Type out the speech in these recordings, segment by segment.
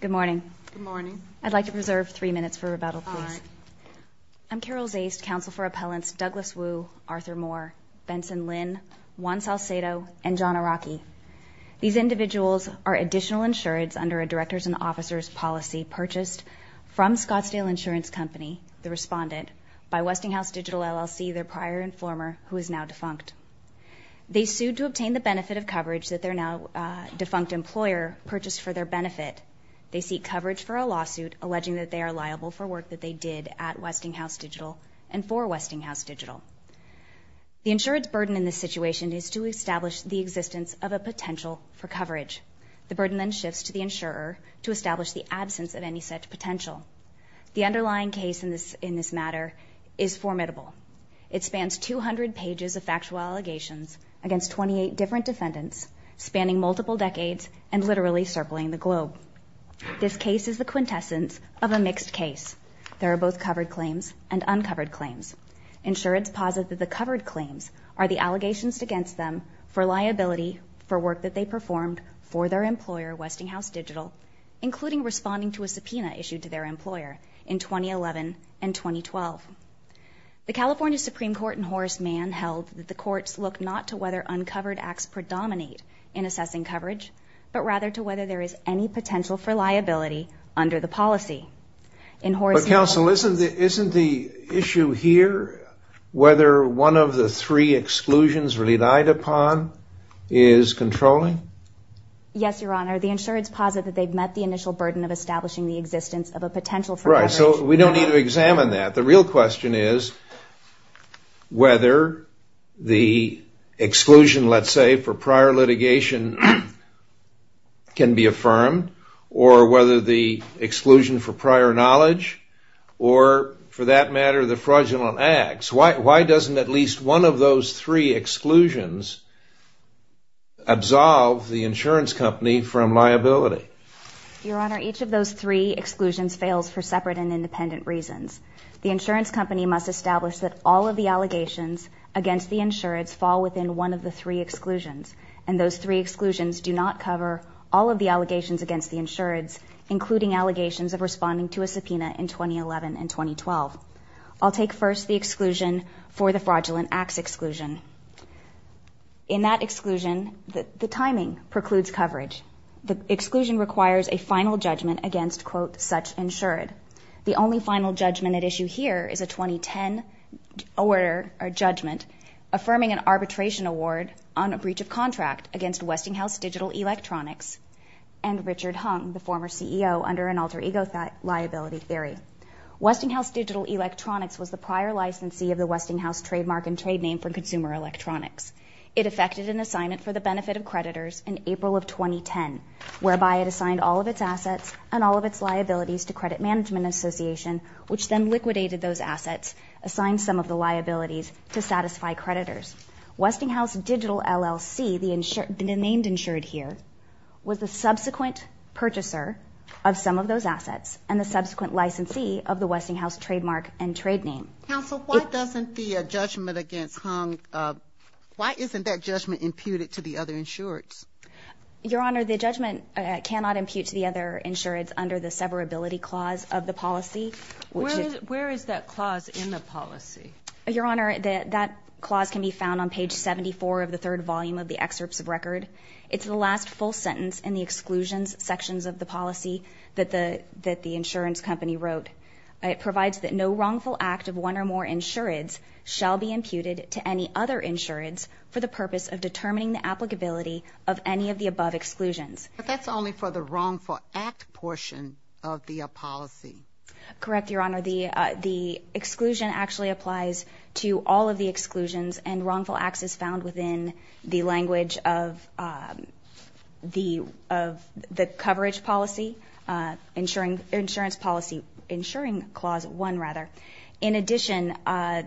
Good morning. Good morning. I'd like to preserve three minutes for rebuttal, please. All right. I'm Carol Zaste, Counsel for Appellants Douglas Woo, Arthur Moore, Benson Lynn, Juan Salcedo, and John Araki. These individuals are additional insureds under a Directors and Officers Policy purchased from Scottsdale Insurance Company, the respondent, by Westinghouse Digital LLC, their prior and former, who is now defunct. They sued to obtain the benefit of coverage that their now defunct employer purchased for their benefit. They seek coverage for a lawsuit alleging that they are liable for work that they did at Westinghouse Digital and for Westinghouse Digital. The insured's burden in this situation is to establish the existence of a potential for coverage. The burden then shifts to the insurer to establish the absence of any such potential. The underlying case in this matter is formidable. It spans 200 pages of factual allegations against 28 different defendants spanning multiple decades and literally circling the globe. This case is the quintessence of a mixed case. There are both covered claims and uncovered claims. Insureds posit that the covered claims are the allegations against them for liability for work that they performed for their employer, Westinghouse Digital, including responding to a subpoena issued to their employer in 2011 and 2012. The California Supreme Court in Horace Mann held that the courts look not to whether uncovered acts predominate in assessing coverage, but rather to whether there is any potential for liability under the policy. But counsel, isn't the issue here whether one of the three exclusions relied upon is controlling? Yes, Your Honor. The insureds posit that they've met the initial burden of establishing the existence of a potential for coverage. Right. So we don't need to examine that. The real question is whether the exclusion, let's say, for prior litigation can be affirmed, or whether the exclusion for prior knowledge or, for that matter, the fraudulent acts. Why doesn't at least one of those three exclusions absolve the insurance company from liability? Your Honor, each of those three exclusions fails for separate and independent reasons. The insurance company must establish that all of the allegations against the insureds fall within one of the three exclusions, and those three exclusions do not cover all of the allegations against the insureds, including allegations of responding to a subpoena in 2011 and 2012. I'll take first the exclusion for the fraudulent acts exclusion. In that exclusion, the timing precludes coverage. The exclusion requires a final judgment against, quote, such insured. The only final judgment at issue here is a 2010 judgment affirming an arbitration award on a breach of contract against Westinghouse Digital Electronics and Richard Hung, the former CEO, under an alter ego liability theory. Westinghouse Digital Electronics was the prior licensee of the Westinghouse trademark and trade name for consumer electronics. It effected an assignment for the benefit of creditors in April of 2010, whereby it assigned all of its assets and all of its liabilities to Credit Management Association, which then liquidated those assets, assigned some of the liabilities to satisfy creditors. Westinghouse Digital LLC, the named insured here, was the subsequent purchaser of some of those assets and the subsequent licensee of the Westinghouse trademark and trade name. Counsel, why doesn't the judgment against Hung, why isn't that judgment imputed to the other insureds? Your Honor, the judgment cannot impute to the other insureds under the severability clause of the policy. Where is that clause in the policy? Your Honor, that clause can be found on page 74 of the third volume of the excerpts of record. It's the last full sentence in the exclusions sections of the policy that the insurance company wrote. It provides that no wrongful act of one or more insureds shall be imputed to any other insureds for the purpose of determining the applicability of any of the above exclusions. But that's only for the wrongful act portion of the policy. Correct, Your Honor. The exclusion actually applies to all of the exclusions and wrongful acts is found within the language of the coverage policy, insurance policy, insuring clause 1, rather. In addition,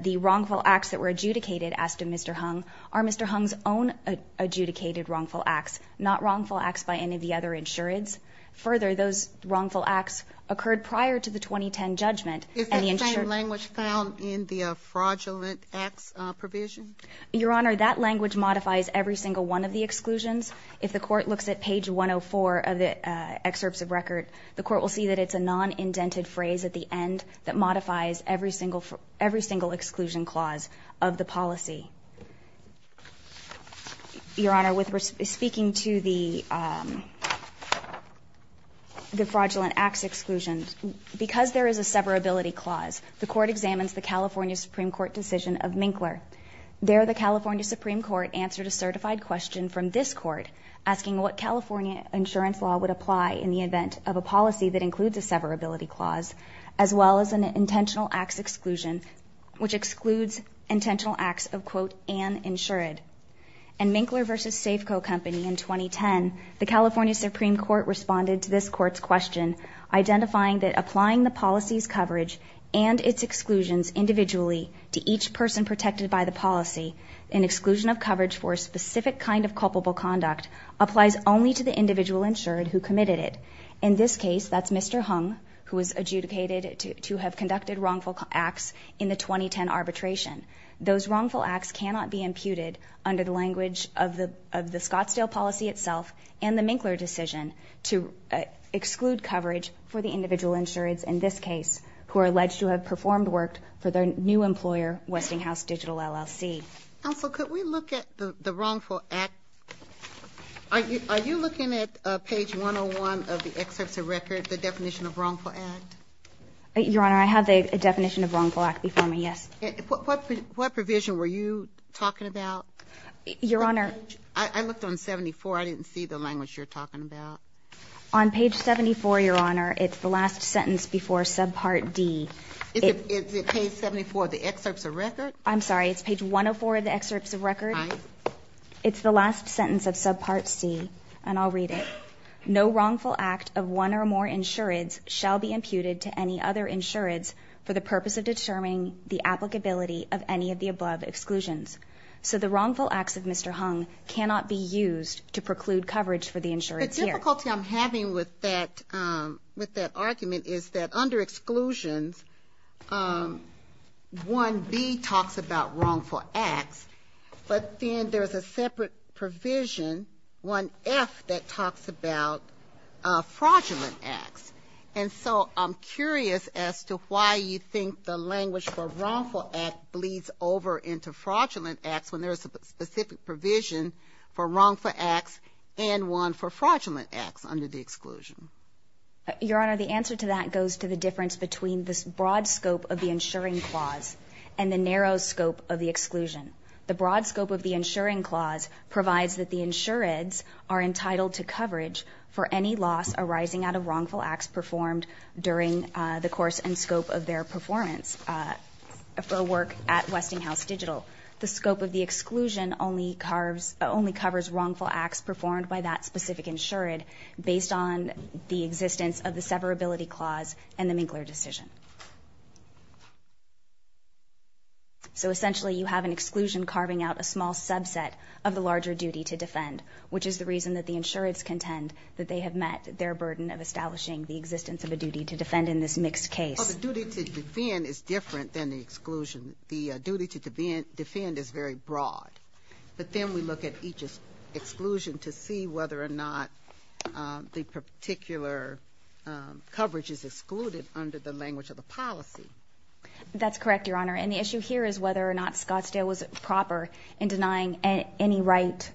the wrongful acts that were adjudicated, asked of Mr. Hung, are Mr. Hung's own adjudicated wrongful acts, not wrongful acts by any of the other insureds. Further, those wrongful acts occurred prior to the 2010 judgment. Is that same language found in the fraudulent acts provision? Your Honor, that language modifies every single one of the exclusions. If the court looks at page 104 of the excerpts of record, the court will see that it's a non-indented phrase at the end that modifies every single exclusion clause of the policy. Your Honor, speaking to the fraudulent acts exclusion, because there is a severability clause, the court examines the California Supreme Court decision of Minkler. There, the California Supreme Court answered a certified question from this court asking what California insurance law would apply in the event of a policy that includes a severability clause, as well as an intentional acts exclusion, which excludes intentional acts of, quote, an insured. In Minkler v. Safeco Company in 2010, the California Supreme Court responded to this court's question, identifying that applying the policy's coverage and its exclusions individually to each person protected by the policy, an exclusion of coverage for a specific kind of culpable conduct, applies only to the individual insured who committed it. In this case, that's Mr. Hung, who was adjudicated to have conducted wrongful acts in the 2010 arbitration. Those wrongful acts cannot be imputed under the language of the Scottsdale policy itself and the Minkler decision to exclude coverage for the individual insureds in this case who are alleged to have performed work for their new employer, Westinghouse Digital LLC. Counsel, could we look at the wrongful acts? Are you looking at page 101 of the excerpts of record, the definition of wrongful act? Your Honor, I have the definition of wrongful act before me, yes. What provision were you talking about? Your Honor. I looked on 74. I didn't see the language you're talking about. On page 74, Your Honor, it's the last sentence before subpart D. Is it page 74 of the excerpts of record? I'm sorry. It's page 104 of the excerpts of record? Aye. It's the last sentence of subpart C, and I'll read it. No wrongful act of one or more insureds shall be imputed to any other insureds for the purpose of determining the applicability of any of the above exclusions. So the wrongful acts of Mr. Hung cannot be used to preclude coverage for the insureds here. The difficulty I'm having with that argument is that under exclusions, 1B talks about wrongful acts, but then there's a separate provision, 1F, that talks about fraudulent acts. And so I'm curious as to why you think the language for wrongful act bleeds over into fraudulent acts when there's a specific provision for wrongful acts and one for fraudulent acts under the exclusion. Your Honor, the answer to that goes to the difference between this broad scope of the insuring clause and the narrow scope of the exclusion. The broad scope of the insuring clause provides that the insureds are entitled to coverage for any loss arising out of wrongful acts performed during the course and scope of their performance for work at Westinghouse Digital. The scope of the exclusion only covers wrongful acts performed by that specific insured based on the existence of the severability clause and the Minkler decision. So essentially you have an exclusion carving out a small subset of the larger duty to defend, which is the reason that the insureds contend that they have met their burden of establishing the existence of a duty to defend in this mixed case. Well, the duty to defend is different than the exclusion. The duty to defend is very broad. But then we look at each exclusion to see whether or not the particular coverage is excluded under the language of the policy. That's correct, Your Honor, and the issue here is whether or not Scottsdale was proper in denying any right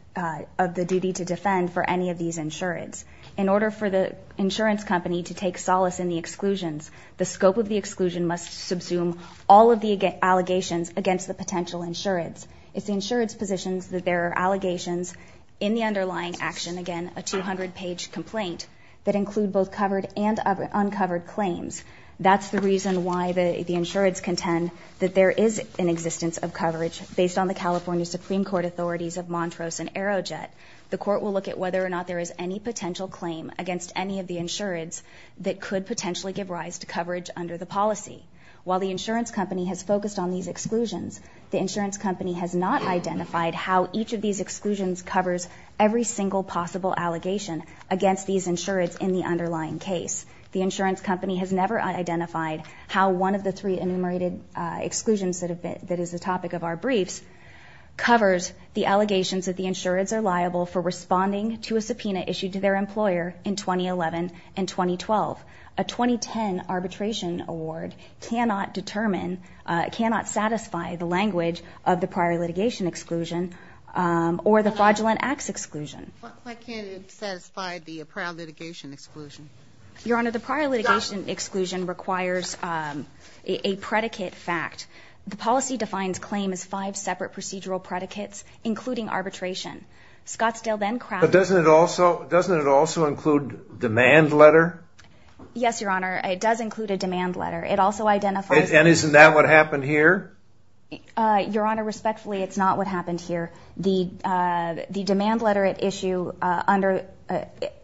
of the duty to defend for any of these insureds. In order for the insurance company to take solace in the exclusions, the scope of the exclusion must subsume all of the allegations against the potential insureds. It's the insureds' positions that there are allegations in the underlying action, again, a 200-page complaint, that include both covered and uncovered claims. That's the reason why the insureds contend that there is an existence of coverage based on the California Supreme Court authorities of Montrose and Aerojet. The Court will look at whether or not there is any potential claim against any of the insureds that could potentially give rise to coverage under the policy. While the insurance company has focused on these exclusions, the insurance company has not identified how each of these exclusions covers every single possible allegation against these insureds in the underlying case. The insurance company has never identified how one of the three enumerated exclusions that is the topic of our briefs covers the allegations that the insureds are liable for responding to a subpoena issued to their employer in 2011 and 2012. A 2010 arbitration award cannot determine, cannot satisfy the language of the prior litigation exclusion or the fraudulent acts exclusion. Why can't it satisfy the prior litigation exclusion? Your Honor, the prior litigation exclusion requires a predicate fact. The policy defines claim as five separate procedural predicates, including arbitration. Scottsdale then crafted... But doesn't it also include demand letter? Yes, Your Honor. It does include a demand letter. It also identifies... And isn't that what happened here? Your Honor, respectfully, it's not what happened here. The demand letter at issue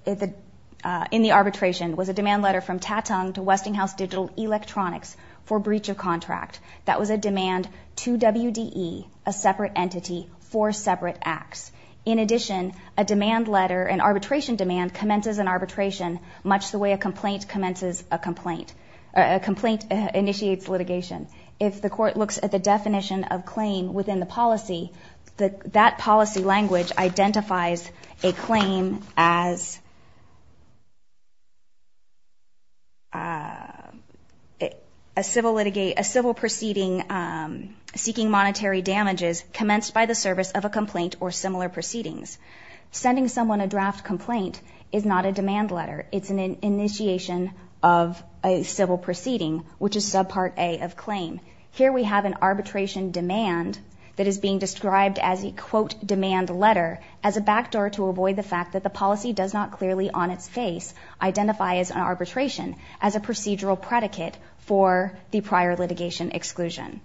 in the arbitration was a demand letter from Tatung to Westinghouse Digital Electronics for breach of contract. That was a demand to WDE, a separate entity, for separate acts. In addition, a demand letter, an arbitration demand, commences an arbitration much the way a complaint commences a complaint. A complaint initiates litigation. If the court looks at the definition of claim within the policy, that policy language identifies a claim as... ...a civil proceeding seeking monetary damages commenced by the service of a complaint or similar proceedings. Sending someone a draft complaint is not a demand letter. It's an initiation of a civil proceeding, which is subpart A of claim. Here we have an arbitration demand that is being described as a, quote, demand letter, as a backdoor to avoid the fact that the policy does not clearly on its face identify as an arbitration as a procedural predicate for the prior litigation exclusion.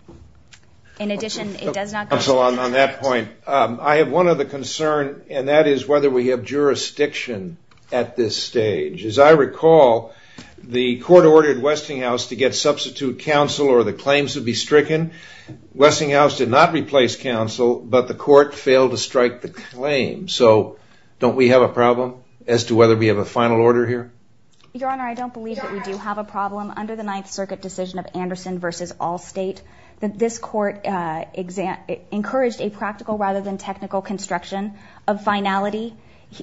In addition, it does not... Counsel, on that point, I have one other concern, and that is whether we have jurisdiction at this stage. As I recall, the court ordered Westinghouse to get substitute counsel or the claims would be stricken. Westinghouse did not replace counsel, but the court failed to strike the claim. So don't we have a problem as to whether we have a final order here? Your Honor, I don't believe that we do have a problem. Under the Ninth Circuit decision of Anderson v. Allstate, this court encouraged a practical rather than technical construction of finality.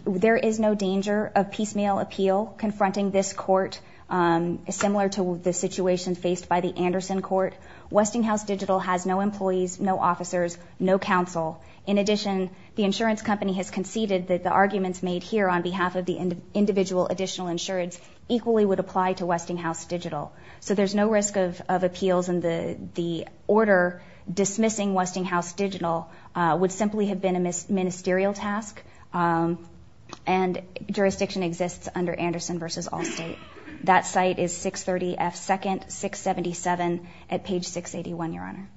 There is no danger of piecemeal appeal confronting this court similar to the situation faced by the Anderson court. Westinghouse Digital has no employees, no officers, no counsel. In addition, the insurance company has conceded that the arguments made here on behalf of the individual additional insurance equally would apply to Westinghouse Digital. So there's no risk of appeals and the order dismissing Westinghouse Digital would simply have been a ministerial task, and jurisdiction exists under Anderson v. Allstate. That site is 630 F. 2nd, 677 at page 681, Your Honor.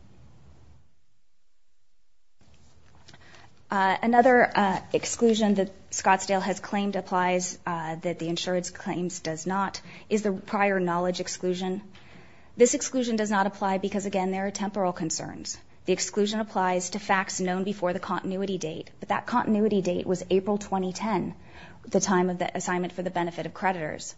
Another exclusion that Scottsdale has claimed applies that the insurance claims does not is the prior knowledge exclusion. This exclusion does not apply because, again, there are temporal concerns. The exclusion applies to facts known before the continuity date, but that continuity date was April 2010, the time of the assignment for the benefit of creditors.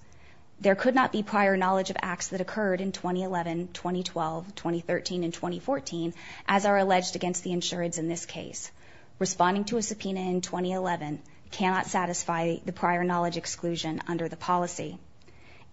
There could not be prior knowledge of acts that occurred in 2011, 2012, 2013, and 2014 as are alleged against the insurance in this case. Responding to a subpoena in 2011 cannot satisfy the prior knowledge exclusion under the policy.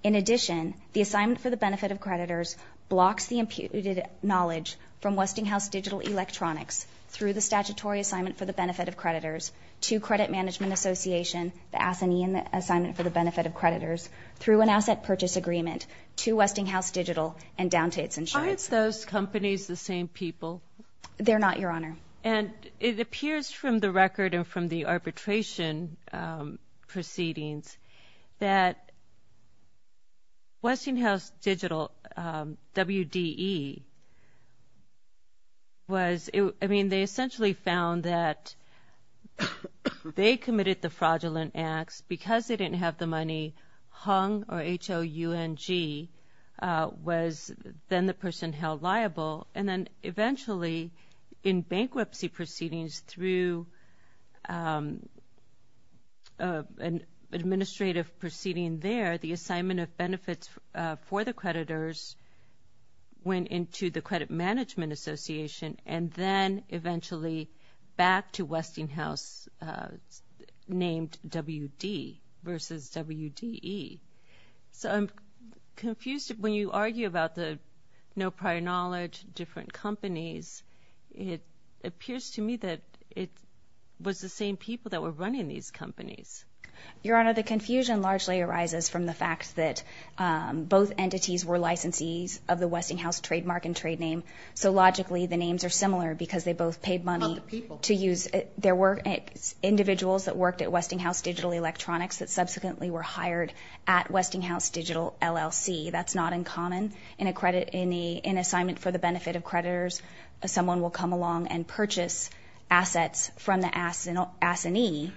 In addition, the assignment for the benefit of creditors blocks the imputed knowledge from Westinghouse Digital Electronics through the statutory assignment for the benefit of creditors to Credit Management Association, the Assinean Assignment for the Benefit of Creditors, through an asset purchase agreement to Westinghouse Digital and down to its insurance. Aren't those companies the same people? They're not, Your Honor. And it appears from the record and from the arbitration proceedings that Westinghouse Digital, WDE, was, I mean, they essentially found that they committed the fraudulent acts because they didn't have the money, Hung, or H-O-U-N-G, was then the person held liable, and then eventually in bankruptcy proceedings through an administrative proceeding there, the assignment of benefits for the creditors went into the Credit Management Association and then eventually back to Westinghouse named WD versus WDE. So I'm confused when you argue about the no prior knowledge, different companies, it appears to me that it was the same people that were running these companies. Your Honor, the confusion largely arises from the fact that both entities were licensees of the Westinghouse trademark and trade name, so logically the names are similar because they both paid money to use. There were individuals that worked at Westinghouse Digital Electronics that subsequently were hired at Westinghouse Digital LLC. That's not uncommon in an assignment for the benefit of creditors. Someone will come along and purchase assets from the assignee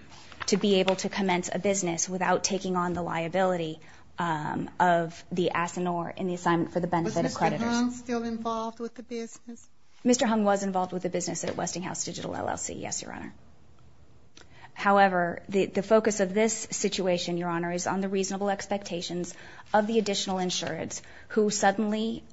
to be able to commence a business without taking on the liability of the assignor in the assignment for the benefit of creditors. Was Mr. Hung still involved with the business? Mr. Hung was involved with the business at Westinghouse Digital LLC, yes, Your Honor. However, the focus of this situation, Your Honor, is on the reasonable expectations of the additional insureds who suddenly,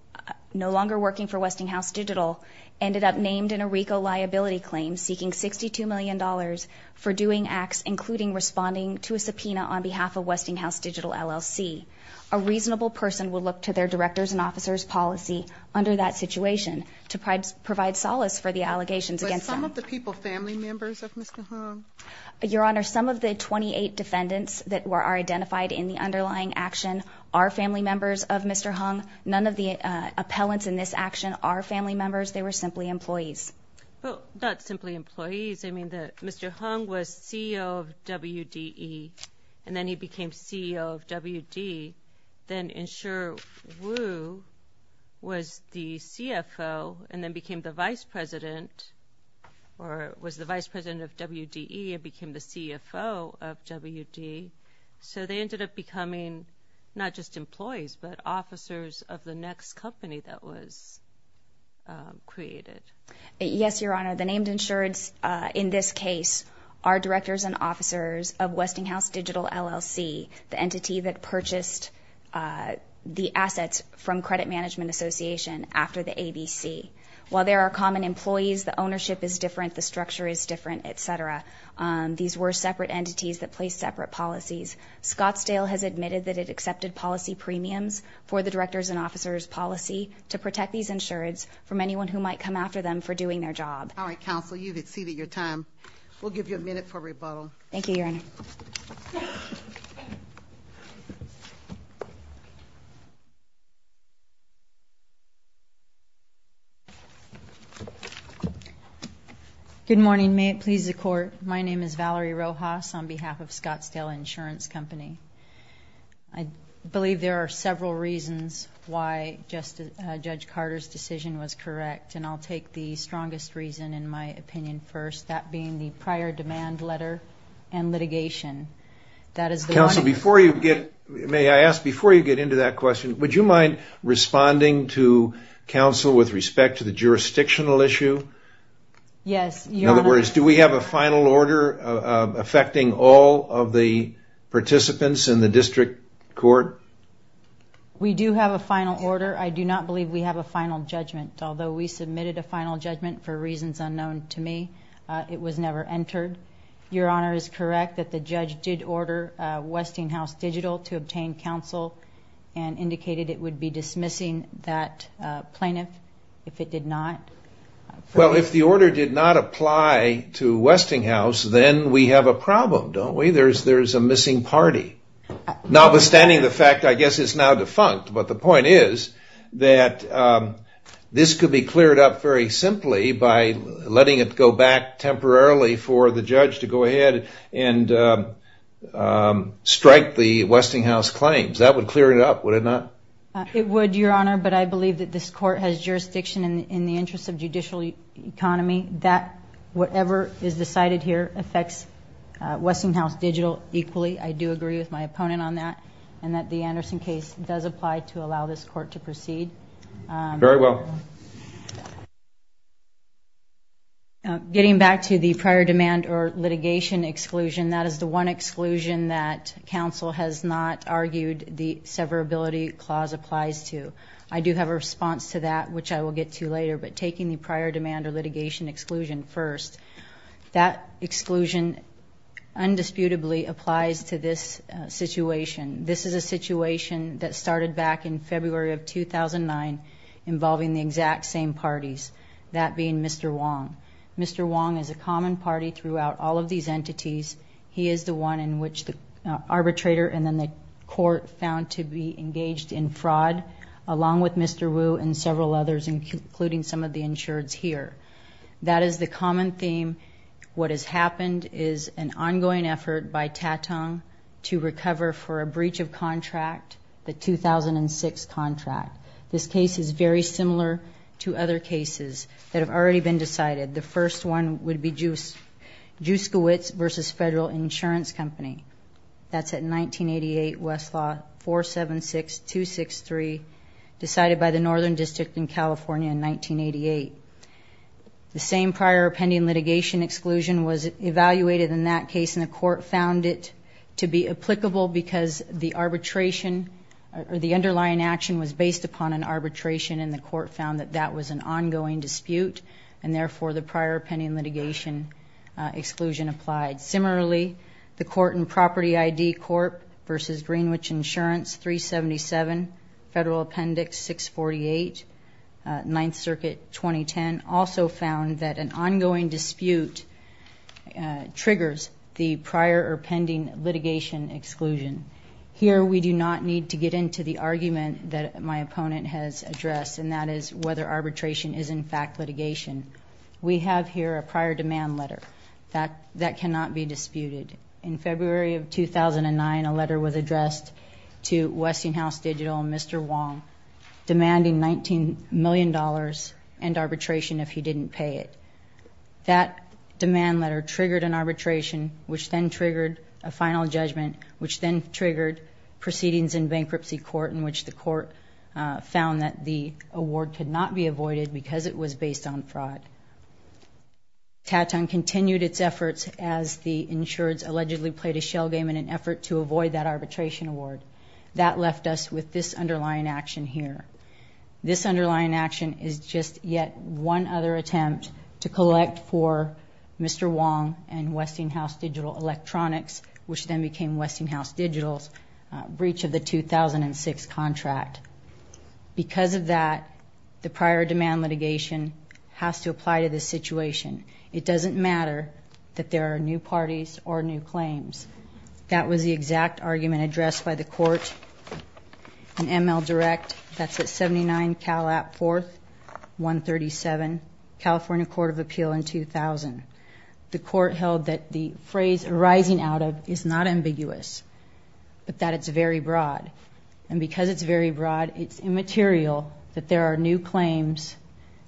no longer working for Westinghouse Digital, ended up named in a RICO liability claim seeking $62 million for doing acts, including responding to a subpoena on behalf of Westinghouse Digital LLC. A reasonable person would look to their director's and officer's policy under that situation to provide solace for the allegations against them. Was some of the people family members of Mr. Hung? Your Honor, some of the 28 defendants that are identified in the underlying action are family members of Mr. Hung None of the appellants in this action are family members. They were simply employees. Well, not simply employees. I mean, Mr. Hung was CEO of WDE, and then he became CEO of WD, then Insurer Wu was the CFO and then became the vice president or was the vice president of WDE and became the CFO of WD. So they ended up becoming not just employees but officers of the next company that was created. Yes, Your Honor. The named insureds in this case are directors and officers of Westinghouse Digital LLC, the entity that purchased the assets from Credit Management Association after the ABC. While there are common employees, the ownership is different, the structure is different, et cetera. These were separate entities that placed separate policies. There are different systems for the directors and officers policy to protect these insureds from anyone who might come after them for doing their job. All right, counsel, you've exceeded your time. We'll give you a minute for rebuttal. Thank you, Your Honor. Good morning. May it please the court. My name is Valerie Rojas on behalf of Scottsdale Insurance Company. I have several reasons why Judge Carter's decision was correct, and I'll take the strongest reason in my opinion first, that being the prior demand letter and litigation. Counsel, may I ask, before you get into that question, would you mind responding to counsel with respect to the jurisdictional issue? Yes, Your Honor. In other words, do we have a final order affecting all of the participants in the district court? We do have a final order. I do not believe we have a final judgment. Although we submitted a final judgment for reasons unknown to me, it was never entered. Your Honor is correct that the judge did order Westinghouse Digital to obtain counsel and indicated it would be dismissing that plaintiff if it did not. Well, if the order did not apply to Westinghouse, then we have a problem, don't we? There's a missing party. Notwithstanding the fact I guess it's now defunct, but the point is that this could be cleared up very simply by letting it go back temporarily for the judge to go ahead and strike the Westinghouse claims. That would clear it up, would it not? It would, Your Honor, but I believe that this court has jurisdiction in the interest of judicial economy. Whatever is decided here is a judgment. I'm going to vote in on that and that the Anderson case does apply to allow this court to proceed. Very well. Getting back to the prior demand or litigation exclusion, that is the one exclusion that counsel has not argued the severability clause applies to. I do have a response to that, which I will get to later, but taking the prior demand or litigation exclusion first, this is a situation. This is a situation that started back in February of 2009 involving the exact same parties, that being Mr. Wong. Mr. Wong is a common party throughout all of these entities. He is the one in which the arbitrator and then the court found to be engaged in fraud, along with Mr. Wu and several others, including some of the insureds here. That is the common theme. What has happened is an ongoing effort for a breach of contract, the 2006 contract. This case is very similar to other cases that have already been decided. The first one would be Juskiewicz v. Federal Insurance Company. That's at 1988, Westlaw 476263, decided by the Northern District in California in 1988. The same prior pending litigation exclusion was evaluated in that case and the court found it because the arbitration or the underlying action was based upon an arbitration and the court found that that was an ongoing dispute and therefore the prior pending litigation exclusion applied. Similarly, the Court and Property ID Corp v. Greenwich Insurance, 377 Federal Appendix 648, 9th Circuit, 2010, also found that an ongoing dispute triggers the prior or pending litigation exclusion. Here we do not need to get into the argument that my opponent has addressed and that is whether arbitration is in fact litigation. We have here a prior demand letter that cannot be disputed. In February of 2009, a letter was addressed to Westinghouse Digital and Mr. Wong demanding $19 million and arbitration if he didn't pay it. That demand letter triggered an arbitration which then triggered a final judgment which then triggered proceedings in bankruptcy court in which the court found that the award could not be avoided because it was based on fraud. TATUN continued its efforts as the insureds allegedly played a shell game in an effort to avoid that arbitration award. That left us with this underlying action here. This underlying action is just yet one other attempt to collect for Mr. Wong and Westinghouse Digital electronics which then became Westinghouse Digital's breach of the 2006 contract. Because of that, the prior demand litigation has to apply to this situation. It doesn't matter that there are new parties or new claims. That was the exact argument addressed by the court in ML Direct. That's at 79 Cal App 4th, 137 California Court of Appeal in 2000. The court held that the phrase arising out of is not ambiguous but that it's very broad. And because it's very broad, it's immaterial that there are new claims,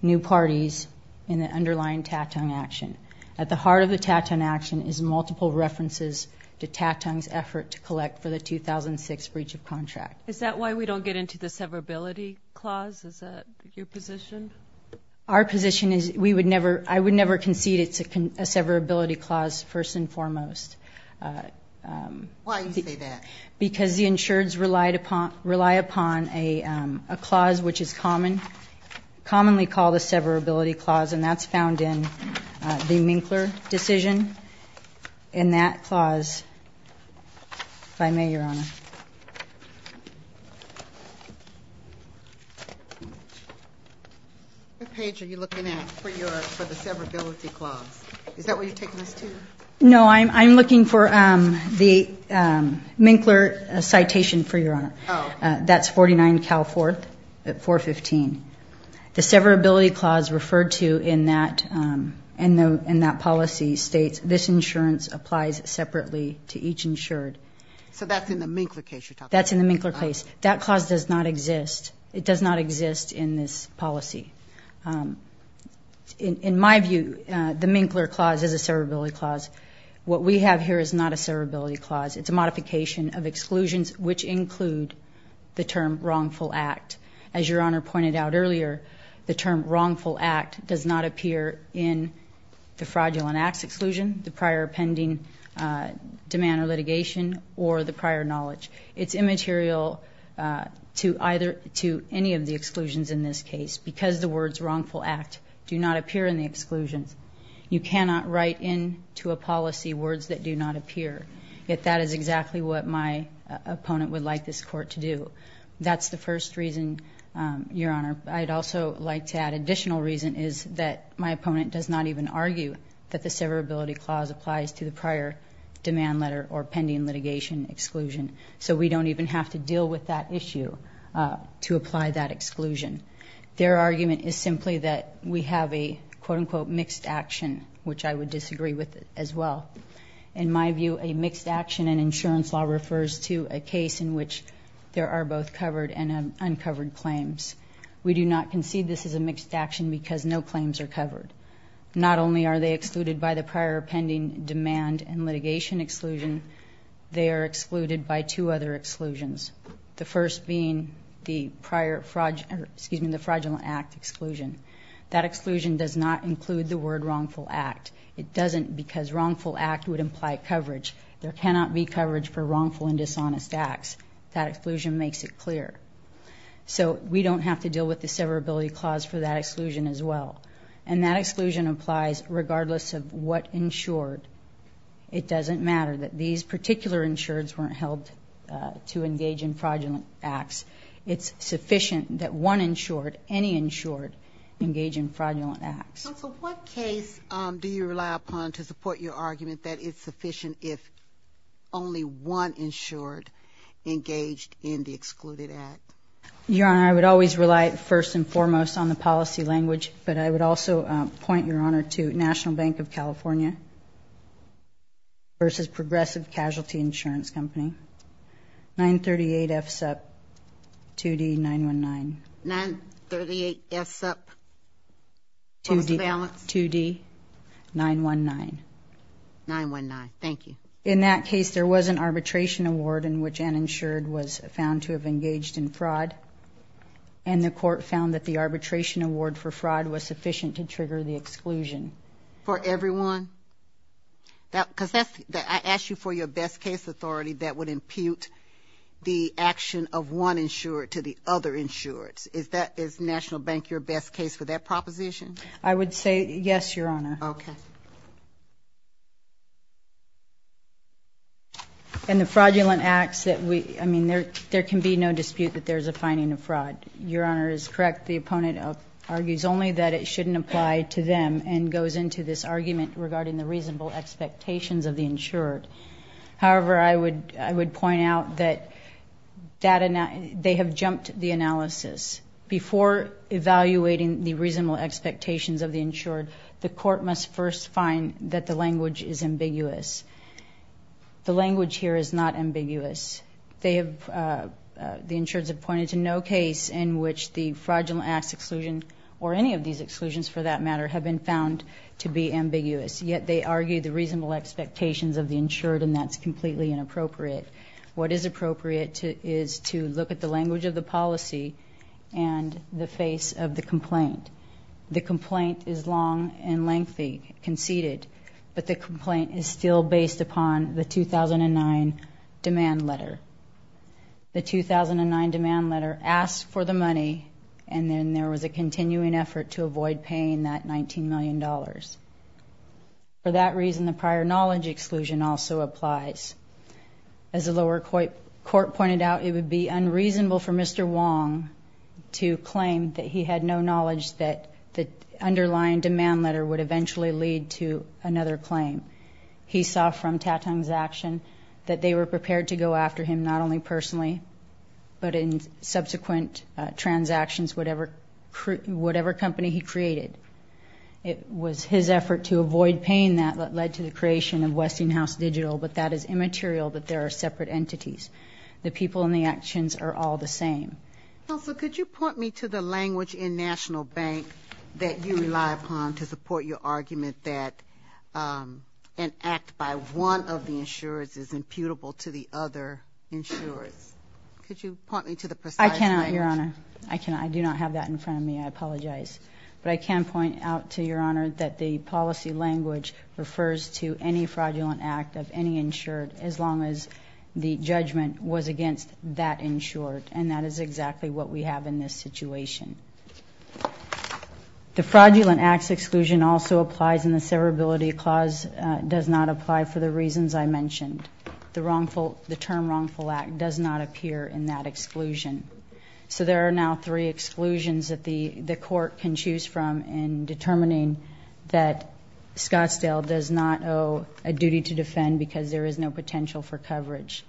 new parties in the underlying TATUN action. At the heart of the TATUN action is multiple references to TATUN's effort to collect for the 2006 breach of contract. Is that why we don't get into the severability clause? Is that your position? Our position is we would never, I would never concede that it's a severability clause, first and foremost. Why do you say that? Because the insureds rely upon a clause which is commonly called a severability clause and that's found in the Minkler decision in that clause by me, Your Honor. What page are you looking at for the severability clause? Is that what you're taking us to? No, I'm looking for the Minkler citation, for Your Honor. Oh. That's 49 Cal 4th at 415. The severability clause referred to in that policy states this insurance applies separately to each insured. So that's in the Minkler case you're talking about? That's in the Minkler case. That clause does not exist. It does not exist in this policy. In my view, the Minkler clause is a severability clause. What we have here is not a severability clause. It's a modification of exclusions which include the term wrongful act. As Your Honor pointed out earlier, the term wrongful act does not appear in the fraudulent acts exclusion, the prior pending demand or litigation, or the prior knowledge. It's immaterial to either, to any of the exclusions in this case because the words wrongful act do not appear in the exclusions. You cannot write in to a policy words that do not appear. Yet that is exactly what my opponent would like this court to do. That's the first reason Your Honor. I'd also like to add additional reason is that my opponent does not even argue that the severability clause applies to the prior demand letter or pending litigation exclusion. So we don't even have to deal with that issue to apply that exclusion. Their argument is simply that we have a quote unquote mixed action which I would disagree with as well. In my view, a mixed action in insurance law refers to a case in which there are both covered and uncovered claims. We do not concede this is a mixed action because no claims are covered. Not only are they excluded by the prior pending demand and litigation exclusion, they are excluded by two other exclusions. The first being the prior fraudulent, excuse me, the fraudulent act exclusion. That exclusion does not include the word wrongful act. It doesn't because wrongful act would imply coverage. There cannot be coverage for wrongful and dishonest acts. That exclusion makes it clear. So we don't have to deal with the severability clause for that exclusion as well. And that exclusion applies regardless of what insured. It doesn't matter that these particular insureds weren't held to engage in fraudulent acts. So what case do you rely upon to support your argument that it's sufficient if only one insured engaged in the excluded act? Your Honor, I would always rely first and foremost on the policy language, but I would also point, Your Honor, to National Bank of California versus Progressive Casualty Insurance Company, 938F 2D 919. 938S up. What was the balance? 2D 919. 919. Thank you. In that case, there was an arbitration award in which an insured was found to have engaged in fraud, and the court found that the arbitration award for fraud was sufficient to trigger the exclusion. For everyone? Because I asked you for your best case for that proposition. I would say, yes, Your Honor. Okay. And the fraudulent acts that we, I mean, there can be no dispute that there's a finding of fraud. Your Honor is correct. The opponent argues only that it shouldn't apply to them and goes into this argument regarding the reasonable expectations of the insured. However, I would point out that they have jumped the analysis. Before evaluating the reasonable expectations of the insured, the court must first find that the language is ambiguous. The language here is not ambiguous. They have, the insureds have pointed to no case in which the fraudulent acts or any of these exclusions, for that matter, have been found to be ambiguous. Yet they argue the reasonable expectations of the insured and that's completely inappropriate. What is appropriate is to look at the language of the policy and the face of the complaint. The complaint is long and lengthy, conceded, but the complaint is still based upon the 2009 demand letter. The 2009 demand letter asked for the money and then there was a continuing effort to avoid paying that $19 million. For that reason, the prior knowledge exclusion also applies. As the lower court pointed out, it would be unreasonable for Mr. Wong to claim that he had no knowledge that the underlying demand letter would eventually lead to another claim. He saw from Tatung's action that they were prepared to go after him not only personally, but in subsequent transactions, whatever company he created. It was his effort to avoid paying that that led to the creation of Westinghouse Digital, but that is immaterial that there are separate entities. The people and the actions are all the same. Counsel, could you point me to the language in National Bank that you rely upon to support your argument that an act by one of the is against the other insurers? Could you point me to the precise language? I cannot, Your Honor. I do not have that in front of me. I apologize. But I can point out to Your Honor that the policy language refers to any fraudulent act of law. The term wrongful act does not appear in that exclusion. There are now three exclusions that the court can choose from in determining that Scottsdale does not owe a duty to defend because there is no potential for coverage.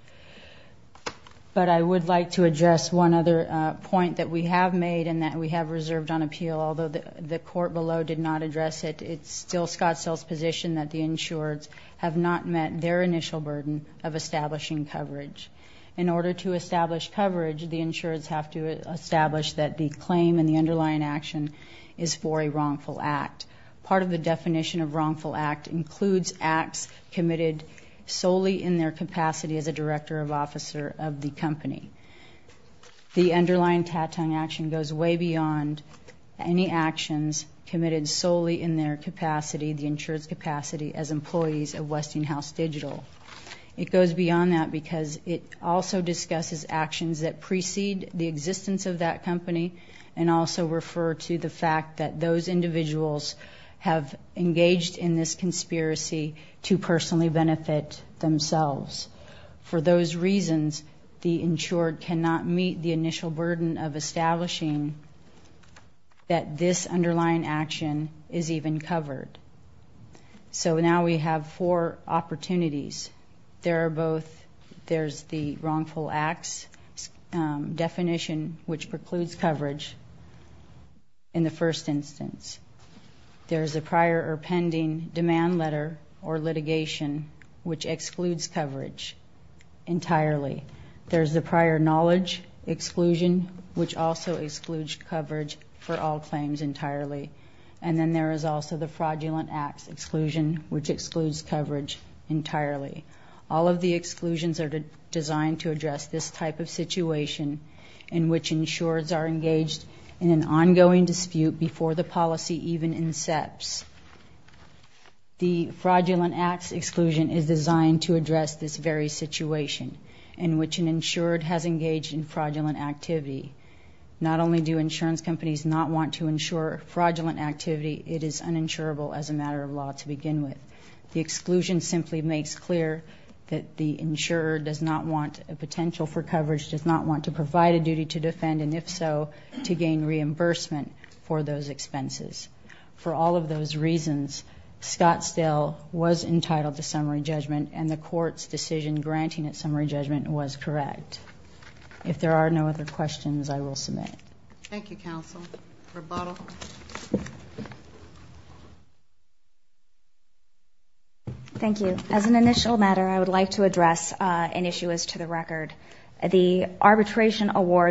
But I would like to address one other point that we have made and that we have reserved on appeal. Although the court below did not address it, it is still Scottsdale's position that the insurers have not met their initial burden of establishing coverage. In order to establish coverage, the insurers have to establish that the claim and the underlying action is for a wrongful act. Part of the definition of wrongful act includes acts committed solely in their capacity as a director of officer of the company. The insurer discusses actions that precede the existence of that company and also refer to the fact that those individuals have engaged in this conspiracy to personally benefit themselves. For those reasons, the insurer cannot meet the initial burden of establishing that this underlying action is even covered. So now we have four opportunities. There are both there's the wrongful acts definition which precludes coverage in the first instance. There's a prior or pending demand letter or litigation which excludes coverage entirely. There's the prior knowledge exclusion which also excludes coverage for all claims entirely. And then there is also the fraudulent acts exclusion which excludes coverage entirely. All of the exclusions are designed to address this type of situation in which insurers are engaged in an ongoing dispute before the policy even incepts. The fraudulent acts exclusion is designed to address this very situation in which an insurer has engaged in fraudulent activity. Not only do insurance companies not want to ensure fraudulent activity, it is also their responsibility to provide a duty to defend and if so to gain reimbursement for those expenses. For all of those reasons, Scottsdale was entitled to summary judgment and the court's decision granting it summary judgment was correct. If there are no other objections, the litigation award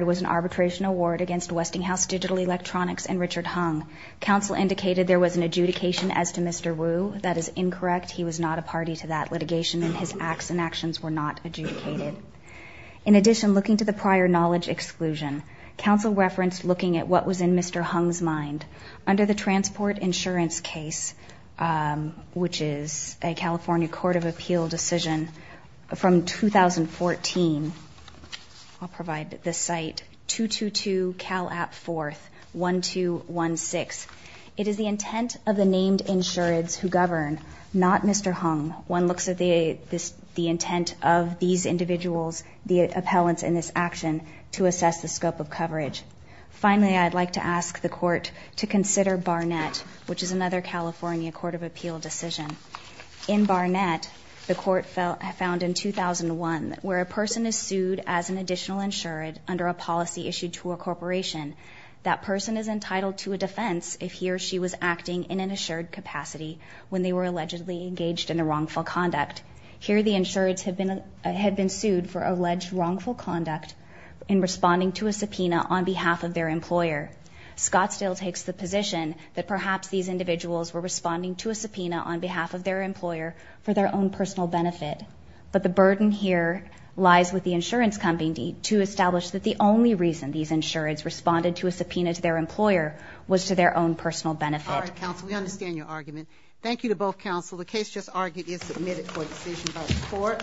was an arbitration award against Westinghouse Digital Electronics and Richard Hung. Counsel indicated there was an adjudication as to Mr. Wu. That is incorrect. He was not a party to that litigation and his acts and actions were not adjudicated. In addition, looking to the prior knowledge exclusion, counsel referenced looking at what was in Mr. Hung's mind. Under the transport insurance case, which is a California court of appeal decision from 2014, I'll provide the site, 222 Cal App 4th, 1216. It is the intent of the named insureds who govern, not Mr. Hung. One looks at the intent of these individuals, the appellants in this action, to assess the scope of coverage. Finally, I would like to ask the court to consider Barnett, which is another California court of appeal decision. In Barnett, the court found in 2001, where a person is sued as an additional insured under a policy issued to a corporation, that person is entitled to a defense if he or she was acting in an insured capacity when they were engaged in a wrongful conduct. Here the insureds have been sued for alleged wrongful conduct in responding to a subpoena on behalf of their employer. Scottsdale takes the position that perhaps these individuals were responding to a subpoena on behalf of their employer for their own personal benefit. But the burden here lies with the insurance company to establish that the only reason these insureds responded to a subpoena to their employer was to their own personal benefit. All right, understand your argument. Thank you to both counsel. The case just argued is submitted for decision by the court.